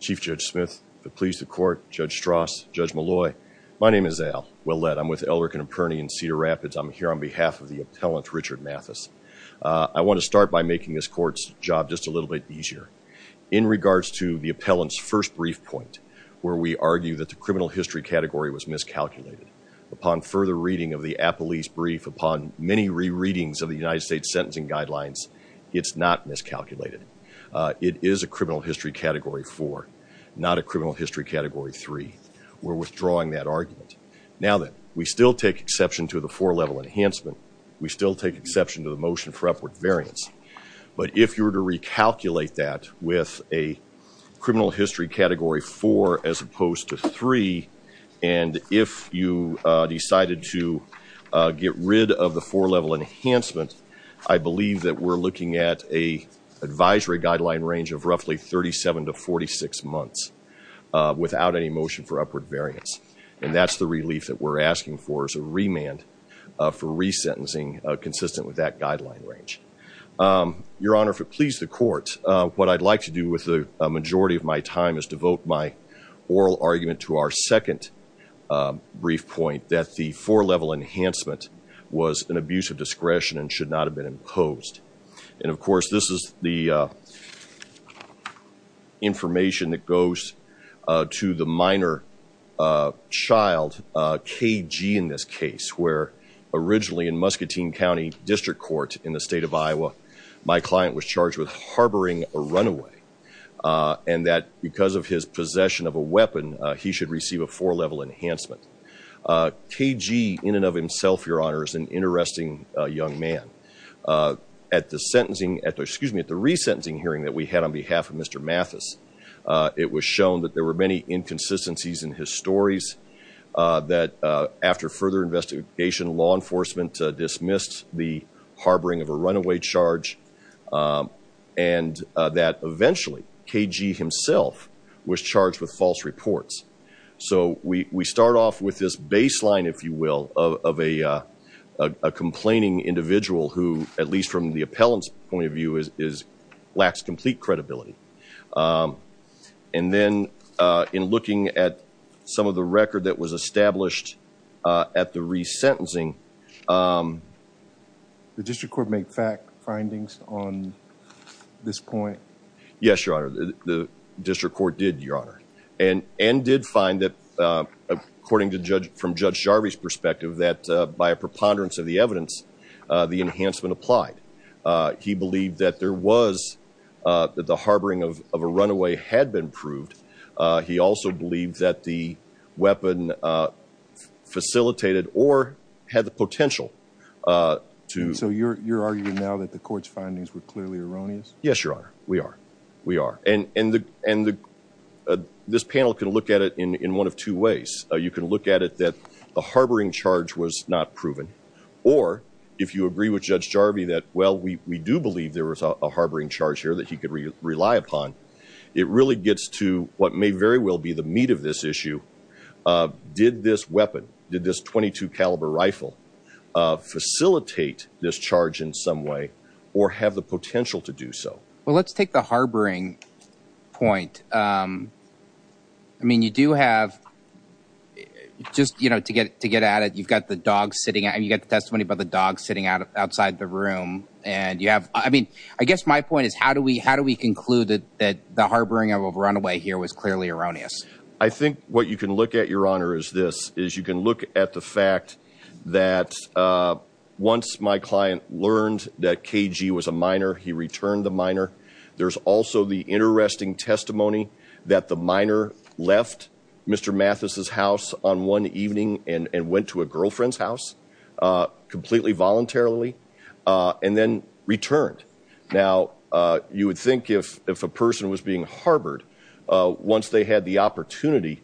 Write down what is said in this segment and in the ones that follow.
Chief Judge Smith, if it please the court, Judge Strauss, Judge Molloy, my name is Al, well led. I'm with Elric & Perney in Cedar Rapids. I'm here on behalf of the appellant Richard Mathis. I want to start by making this court's job just a little bit easier. In regards to the appellant's first brief point, where we argue that the criminal history category was miscalculated, upon further reading of the appellee's brief, upon many rereadings of the United States sentencing guidelines, it's not miscalculated. It is a criminal history category 4, not a criminal history category 3. We're withdrawing that argument. Now that we still take exception to the four-level enhancement, we still take exception to the motion for upward variance. But if you were to recalculate that with a criminal history category 4 as opposed to 3, and if you decided to get rid of the four-level enhancement, I believe that we're looking at a advisory guideline range of roughly 37 to 46 months without any motion for upward variance. And that's the relief that we're asking for, is a remand for resentencing consistent with that guideline range. Your Honor, if it pleased the court, what I'd like to do with the majority of my time is devote my oral argument to our second brief point, that the four-level enhancement was an abuse of discretion and should not have been imposed. And of course, this is the information that goes to the minor child, KG in this case, where originally in Muscatine County District Court in the state of Iowa, my client was charged with harboring a runaway. And that because of his possession of a weapon, he should receive a four-level enhancement. KG, in and of himself, Your Honor, is an interesting young man. At the sentencing, at the, excuse me, at the resentencing hearing that we had on behalf of Mr. Mathis, it was shown that there were many inconsistencies in his stories, that after further investigation, law enforcement dismissed the harboring of a runaway charge, and that eventually KG himself was charged with false reports. So we start off with this baseline, if you will, of a complaining individual who, at least from the appellant's point of view, is, lacks complete credibility. And then in looking at some of the record that was established at the resentencing... The District Court make fact findings on this point? Yes, Your Honor. The District Court did, Your Honor. And did find that, according to Judge, from Judge Jarvis' perspective, that by a preponderance of the evidence, the enhancement applied. He believed that there was, that the harboring of a runaway had been proved. He also believed that the weapon facilitated or had the potential to... So you're arguing now that the court's findings were clearly erroneous? Yes, Your Honor. We are. We are. And this panel can look at it in one of two ways. You can look at it that the harboring charge was not proven, or if you agree with Judge Jarvis that, well, we do believe there was a harboring charge here that he could rely upon. It really gets to what may very well be the meat of this issue. Did this weapon, did this .22 caliber rifle, facilitate this charge in some way or have the potential to do so? Well, let's take the harboring point. I mean, you do have, just, you know, to get to get at it, you've got the dog sitting and you get the testimony about the dog sitting out outside the room and you have, I mean, I guess my point is how do we, how do we conclude that the harboring of a runaway here was clearly erroneous? I think what you can look at, Your Honor, is this, is you can look at the fact that once my client learned that KG was a minor, he returned the minor. There's also the interesting testimony that the minor left Mr. Mathis's house on one evening and went to a girlfriend's house, completely voluntarily, and then returned. Now, you would think if if a person was being harbored, once they had the opportunity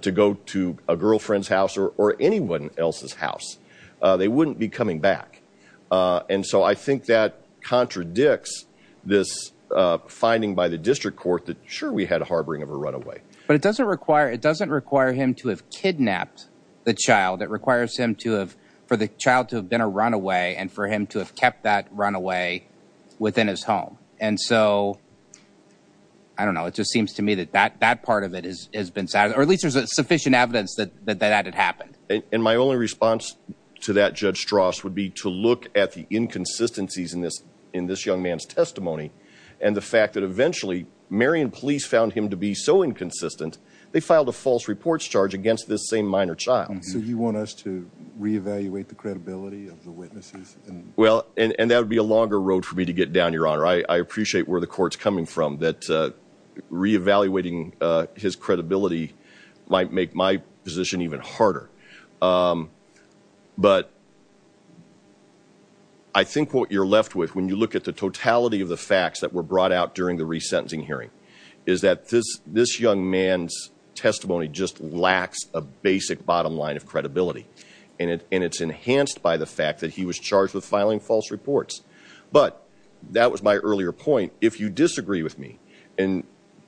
to go to a girlfriend's house or anyone else's house, they wouldn't be coming back. And so I think that contradicts this finding by the district court that sure we had a harboring of a runaway. But it doesn't require, it doesn't require him to have kidnapped the child. It requires him to have, for the child to have been a runaway and for him to have kept that runaway within his home. And so, I don't know, it just seems to me that that that part of it has been, or at least there's a sufficient evidence that that had happened. And my only response to that, Judge Strauss, would be to look at the inconsistencies in this, in this young man's testimony and the fact that eventually Marion Police found him to be so inconsistent, they filed a false reports charge against this same minor child. So you want us to re-evaluate the credibility of the witnesses? Well, and that would be a longer road for me to get down, Your Honor. I appreciate where the court's coming from, that re-evaluating his credibility might make my position even harder. But I think what you're left with, when you look at the totality of the facts that were brought out during the resentencing hearing, is that this, this young man's testimony just lacks a basic bottom line of credibility. And it, and it's enhanced by the fact that he was charged with filing false reports. But, that was my earlier point, if you disagree with me, and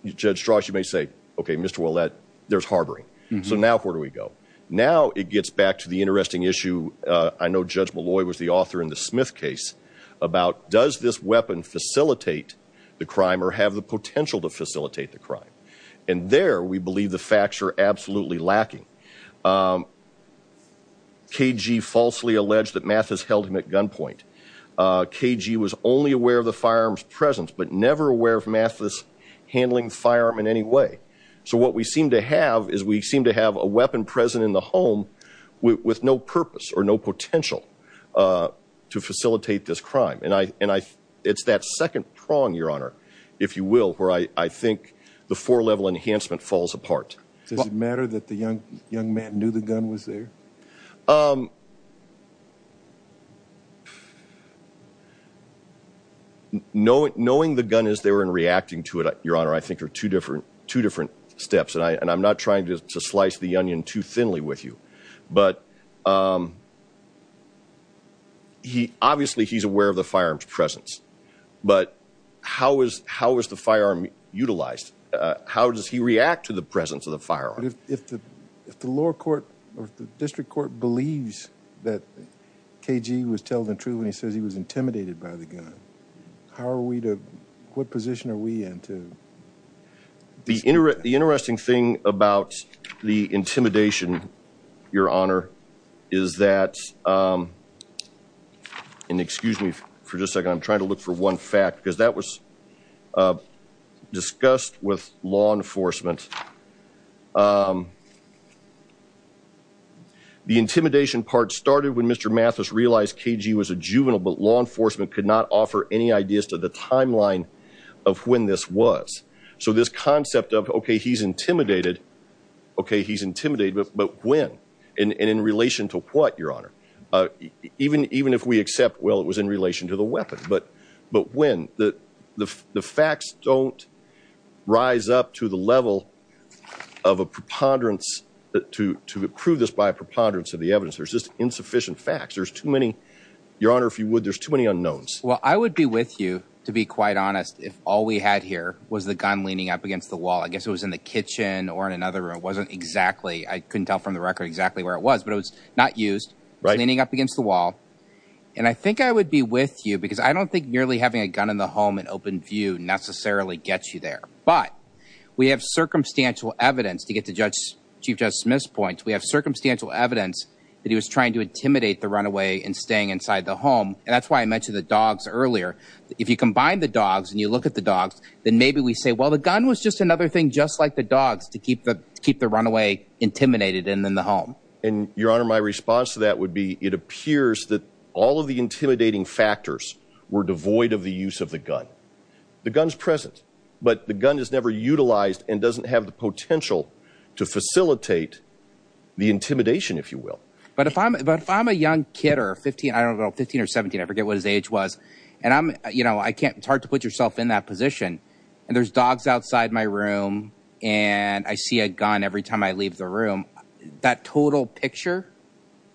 Judge Strauss, you may say, okay, Mr. Ouellette, there's harboring. So now where do we go? Now it gets back to the interesting issue, I know Judge Molloy was the author in the Smith case, about does this weapon facilitate the crime or have the potential to facilitate the crime? And there, we believe the facts are absolutely lacking. KG falsely alleged that Mathis held him at gunpoint. KG was only aware of the firearms presence, but never aware of Mathis handling firearm in any way. So what we seem to have, is we seem to have a weapon present in the home with no purpose or no potential to facilitate this crime. And I, and I, it's that second prong, your honor, if you will, where I, I think the four-level enhancement falls apart. Does it matter that the young, young man knew the gun was there? Knowing, knowing the gun is there and reacting to it, your honor, I think are two different, two different steps. And I, and I'm not trying to slice the onion too thinly with you, but he, obviously he's aware of the firearms presence, but how is, how is the firearm utilized? How does he react to the presence of the firearm? If the, if the lower court or the district court believes that KG was telling the truth when he says he was intimidated by the gun, how are we to, what position are we in to? The interesting thing about the intimidation, your honor, is that, and excuse me for just a second, I'm trying to look for one fact, because that was discussed with law enforcement. The intimidation part started when Mr. Mathis realized KG was a juvenile, but law enforcement could not offer any ideas to the timeline of when this was. So this concept of, okay, he's intimidated, okay, he's intimidated, but when? And in relation to what, your honor? Even, even if we accept, well, it was in relation to the weapon, but, but when? The, the facts don't rise up to the level of a preponderance, to prove this by a preponderance of the evidence. There's just insufficient facts. There's too many, your honor, if you would, there's too many unknowns. Well, I would be with you, to be quite honest, if all we had here was the gun leaning up against the wall, I guess it was in the kitchen or in another room, it wasn't exactly, I couldn't tell from the record exactly where it was, but it was not used. Right. Leaning up against the wall, and I think I would be with you, because I don't think nearly having a gun in the home in open view necessarily gets you there. But, we have circumstantial evidence, to get to Judge, Chief Judge Smith's point, we have circumstantial evidence that he was trying to intimidate the runaway and staying inside the home, and that's why I mentioned the dogs earlier. If you combine the dogs and you look at the gun, well, the gun was just another thing, just like the dogs, to keep the runaway intimidated and in the home. And, your honor, my response to that would be, it appears that all of the intimidating factors were devoid of the use of the gun. The gun's present, but the gun is never utilized and doesn't have the potential to facilitate the intimidation, if you will. But, if I'm a young kid, or 15, I don't know, 15 or 17, I forget what his age was, and I'm, you know, I can't, it's hard to put yourself in that position, and there's dogs outside my room, and I see a gun every time I leave the room, that total picture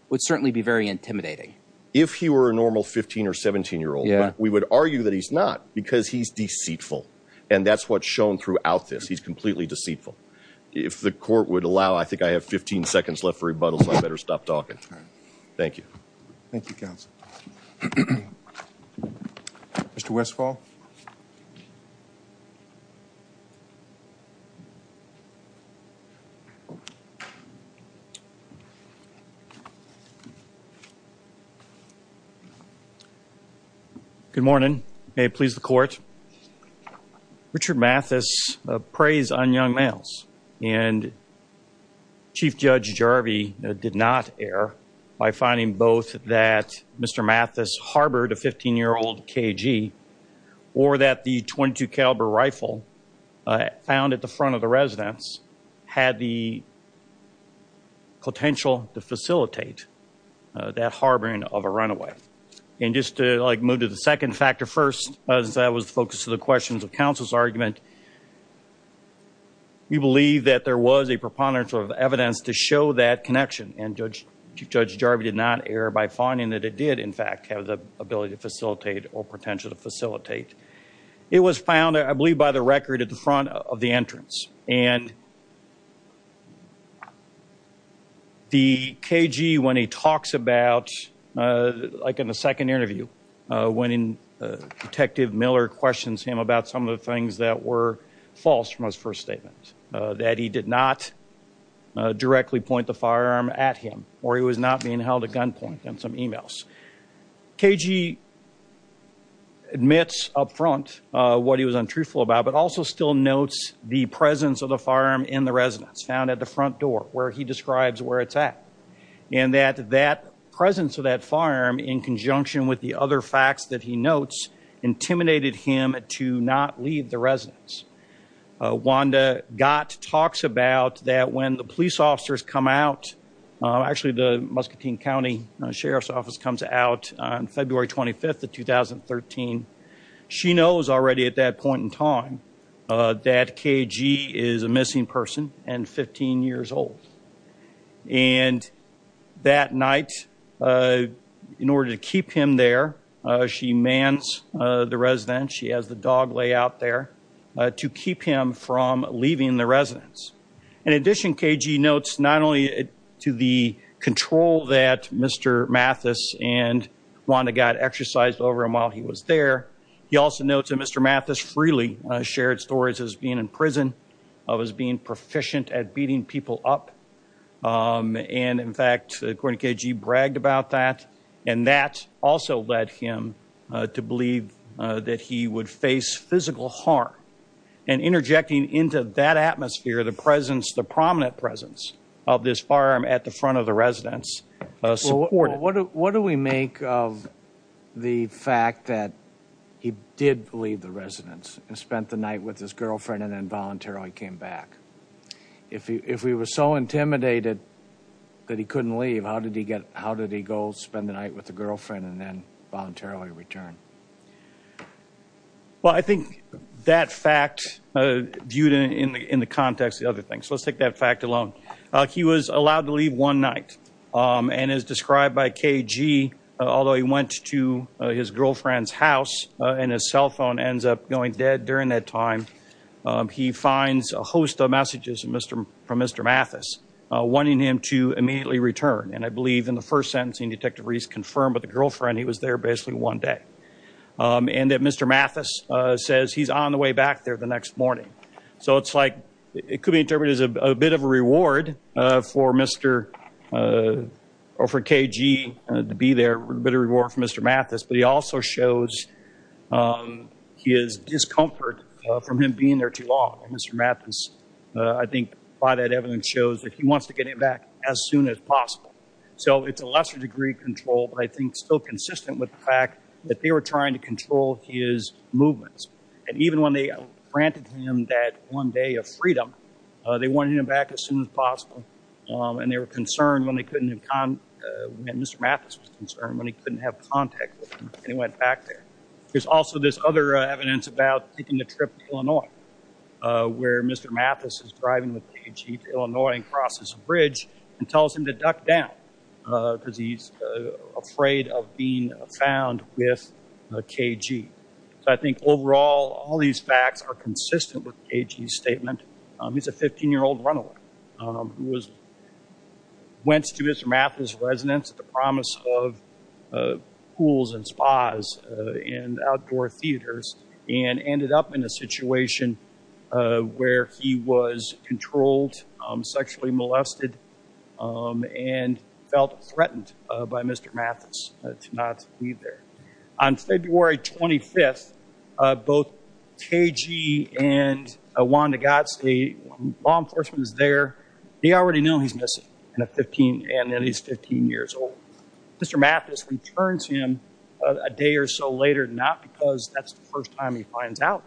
would certainly be very intimidating. If he were a normal 15 or 17 year old, we would argue that he's not, because he's deceitful, and that's what's shown throughout this. He's completely deceitful. If the court would allow, I think I have 15 seconds left for rebuttal, so I better stop talking. Thank you. Thank you, counsel. Mr. Westfall. Good morning. May it please the court. Richard Mathis preys on young males, and Chief Judge Jarvie did not err by finding both that Mr. Mathis harbored a 15-year-old KG, or that the .22 caliber rifle found at the front of the residence had the potential to facilitate that harboring of a runaway. And just to, like, move to the second factor first, as I was focused to the questions of counsel's argument, we believe that there was a preponderance of evidence to show that connection, and Chief Judge Jarvie did not err by finding that it did, in fact, have the ability to facilitate or potential to facilitate. It was found, I believe, by the record at the front of the entrance, and the KG, when he talks about, like in the second interview, when Detective Miller questions him about some of the things that were false from his first statement, that he did not directly point the firearm at him, or he was not being held at gunpoint in some emails. KG admits up front what he was untruthful about, but also still notes the presence of the firearm in the residence, found at the front door, where he describes where it's at, and that that presence of that firearm, in conjunction with the other facts that he notes, intimidated him to not leave the residence. Wanda Gott talks about that when the police officers come out, actually the Muscatine County Sheriff's Office comes out on February 25th of 2013, she knows already at that point in time that KG is a missing person and 15 years old, and that night, in order to the residence, she has the dog lay out there to keep him from leaving the residence. In addition, KG notes not only to the control that Mr. Mathis and Wanda Gott exercised over him while he was there, he also notes that Mr. Mathis freely shared stories as being in prison, of his being proficient at beating people up, and in fact, according to KG, bragged about that, and that also led him to believe that he would face physical harm, and interjecting into that atmosphere, the presence, the prominent presence of this firearm at the front of the residence, supported it. What do we make of the fact that he did leave the residence and spent the night with his girlfriend and then voluntarily came back? If he was so intimidated that he couldn't leave, how did he get, how did he go spend the night with the girlfriend and then voluntarily return? Well, I think that fact viewed in the context of the other things, let's take that fact alone. He was allowed to leave one night, and as described by KG, although he went to his girlfriend's house, and his cell phone ends up going dead during that time, he finds a host of messages from Mr. Mathis, wanting him to immediately return, and I believe in the first sentencing, Detective Reese confirmed with the girlfriend he was there basically one day, and that Mr. Mathis says he's on the way back there the next morning. So it's like, it could be interpreted as a bit of a reward for Mr., or for KG to be there, a bit of a reward for Mr. Mathis, but he also shows his discomfort from him being there too long, and Mr. Mathis, I think by that evidence, shows that he wants to get him back as soon as possible. So it's a lesser degree of control, but I think still consistent with the fact that they were trying to control his movements, and even when they granted him that one day of freedom, they wanted him back as soon as possible, and they were concerned when they couldn't have, Mr. Mathis was concerned when he couldn't have contact with him, and he went back there. There's also this other evidence about taking the trip to Illinois, where Mr. Mathis is driving with KG to Illinois and crosses a bridge and tells him to duck down, because he's afraid of being found with KG. So I think overall, all these facts are consistent with KG's statement. He's a 15-year-old runaway, who was, went to Mr. Mathis' residence at the promise of pools and spas and outdoor theaters, and he was controlled, sexually molested, and felt threatened by Mr. Mathis to not leave there. On February 25th, both KG and Juan D'Agostino, law enforcement is there, they already know he's missing, and then he's 15 years old. Mr. Mathis returns him a day or so later, not because that's the first time he finds out,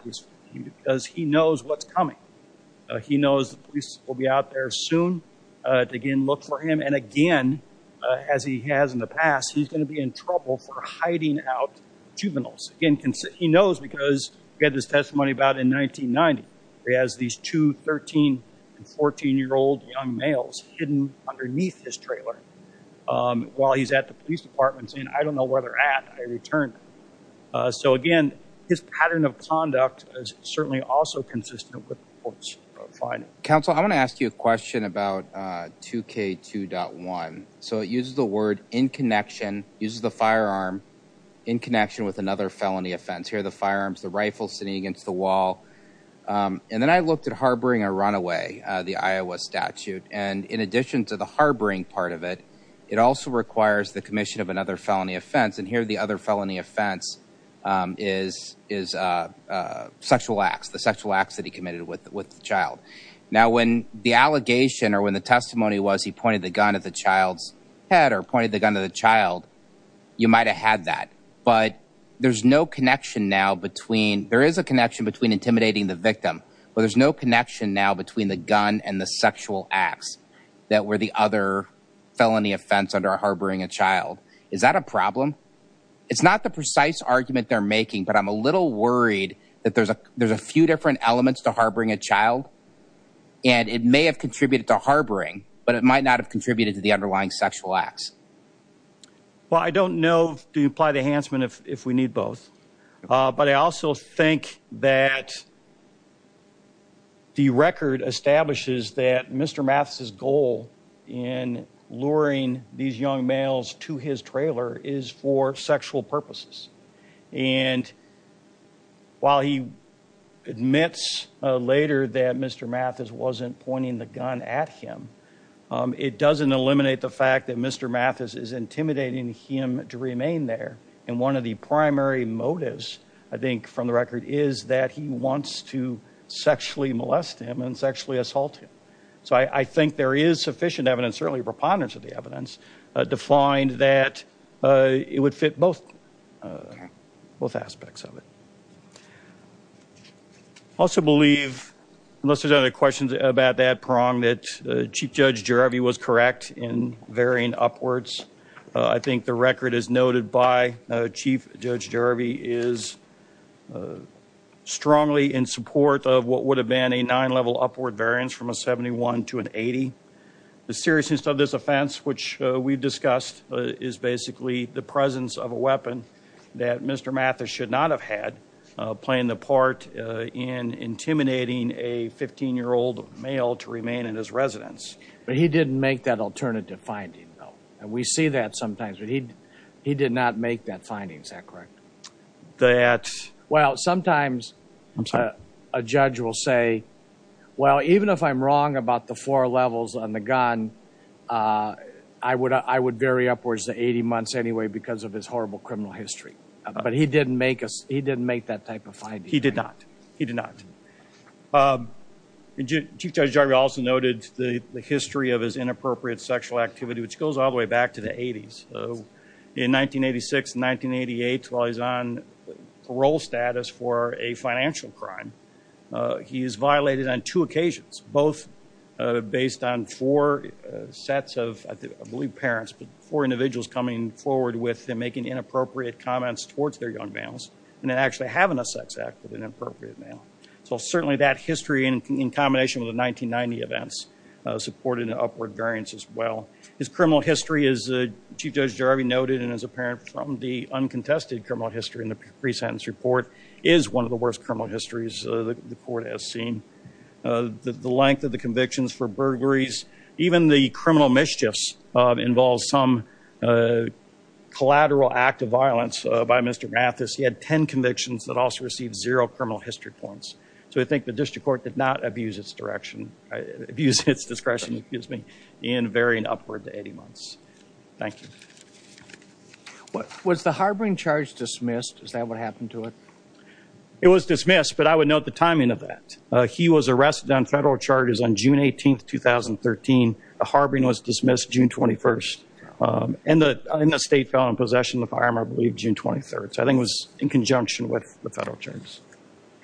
because he knows what's coming. He knows the police will be out there soon to again look for him, and again, as he has in the past, he's going to be in trouble for hiding out juveniles. Again, he knows because we had this testimony about in 1990. He has these two 13 and 14-year-old young males hidden underneath his trailer while he's at the police department saying, I don't know where they're at, I returned. So again, his pattern of conduct is certainly also consistent with the court's finding. Counsel, I want to ask you a question about 2K2.1. So it uses the word in-connection, uses the firearm in connection with another felony offense. Here are the firearms, the rifle sitting against the wall, and then I looked at harboring a runaway, the Iowa statute, and in addition to the harboring part of it, it also requires the commission of another felony offense, and here the other felony offense is sexual acts, the sexual acts that he committed with the child. Now, when the allegation or when the testimony was he pointed the gun at the child's head or pointed the gun to the child, you might have had that, but there's no connection now between, there is a connection between intimidating the victim, but there's no connection now between the gun and the sexual acts that were the other felony offense under harboring a child. Is that a problem? It's not the precise argument they're making, but I'm a little worried that there's a few different elements to harboring a child, and it may have contributed to harboring, but it might not have contributed to the underlying sexual acts. Well, I don't know, do you apply the Hansman if we need both? But I also think that the record establishes that Mr. Mathis' goal in luring these young males to his trailer is for sexual purposes, and while he admits later that Mr. Mathis wasn't pointing the gun at him, it doesn't eliminate the fact that Mr. Mathis is intimidating him to remain there, and one of the primary motives, I think, is that he wants to sexually molest him and sexually assault him. So I think there is sufficient evidence, certainly a preponderance of the evidence, to find that it would fit both, both aspects of it. I also believe, unless there's other questions about that prong, that Chief Judge Gerevy was correct in strongly in support of what would have been a nine-level upward variance from a 71 to an 80. The seriousness of this offense, which we've discussed, is basically the presence of a weapon that Mr. Mathis should not have had playing the part in intimidating a 15-year-old male to remain in his residence. But he didn't make that alternative finding, though, and we see that sometimes. He I'm sorry? A judge will say, well, even if I'm wrong about the four levels on the gun, I would vary upwards to 80 months anyway because of his horrible criminal history. But he didn't make us, he didn't make that type of finding. He did not. He did not. Chief Judge Gerevy also noted the history of his inappropriate sexual activity, which goes all the way back to the 80s. So in 1986 and 1988, while he's on parole status for a financial crime, he is violated on two occasions, both based on four sets of, I believe, parents, but four individuals coming forward with him making inappropriate comments towards their young males and then actually having a sex act with an inappropriate male. So certainly that history, in combination with the 1990 events, supported an upward variance as well. His criminal history, as Chief Judge Gerevy noted, and as apparent from the contested criminal history in the pre-sentence report, is one of the worst criminal histories the court has seen. The length of the convictions for burglaries, even the criminal mischiefs, involves some collateral act of violence by Mr. Mathis. He had 10 convictions that also received zero criminal history points. So I think the district court did not abuse its direction, abuse its discretion, excuse me, in varying upward to 80 months. Thank you. Was the harboring charge dismissed? Is that what happened to it? It was dismissed, but I would note the timing of that. He was arrested on federal charges on June 18th, 2013. The harboring was dismissed June 21st, and the state fell in possession of the firearm, I believe, June 23rd. So I think it was in conjunction with the federal charges.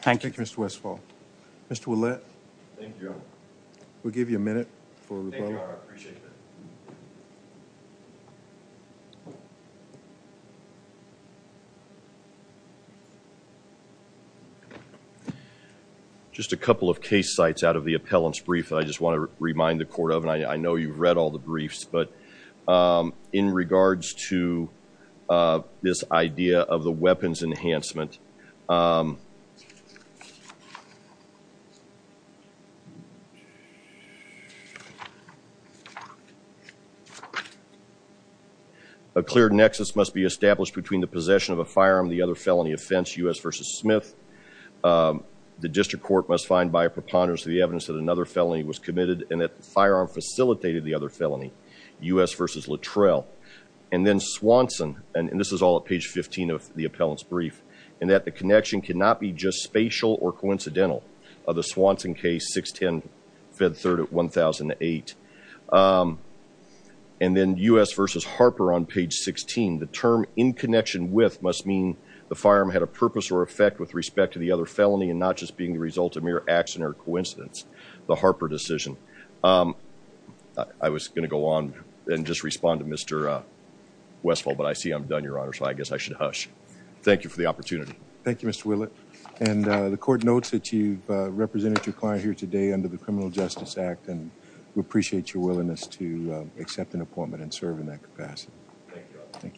Thank you. Thank you, Mr. Westphal. Mr. Ouellette, we'll give you a minute for a rebuttal. Just a couple of case sites out of the appellant's brief that I just want to remind the court of, and I know you've read all the briefs, but in regards to this idea of the weapons enhancement, a clear nexus must be established between the possession of a firearm and the other felony offense, U.S. v. Smith. The district court must find by a preponderance the evidence that another felony was committed and that the firearm facilitated the other felony, U.S. v. Littrell. And then Swanson, and this is all at page 15 of the appellant's brief, and that the connection cannot be just spatial or coincidental of the Swanson case, 610 Fed 3rd at 1008. And then U.S. v. Harper on page 16, the term in connection with must mean the firearm had a purpose or effect with respect to the other felony and not just being the result of mere accident or coincidence, the Harper decision. I was going to go on and just respond to Mr. Westfall, but I see I'm done, Your Honor, so I guess I should hush. Thank you for the opportunity. Thank you, Mr. Willett. And the court notes that you've represented your client here today under the Criminal Justice Act, and we appreciate your willingness to accept an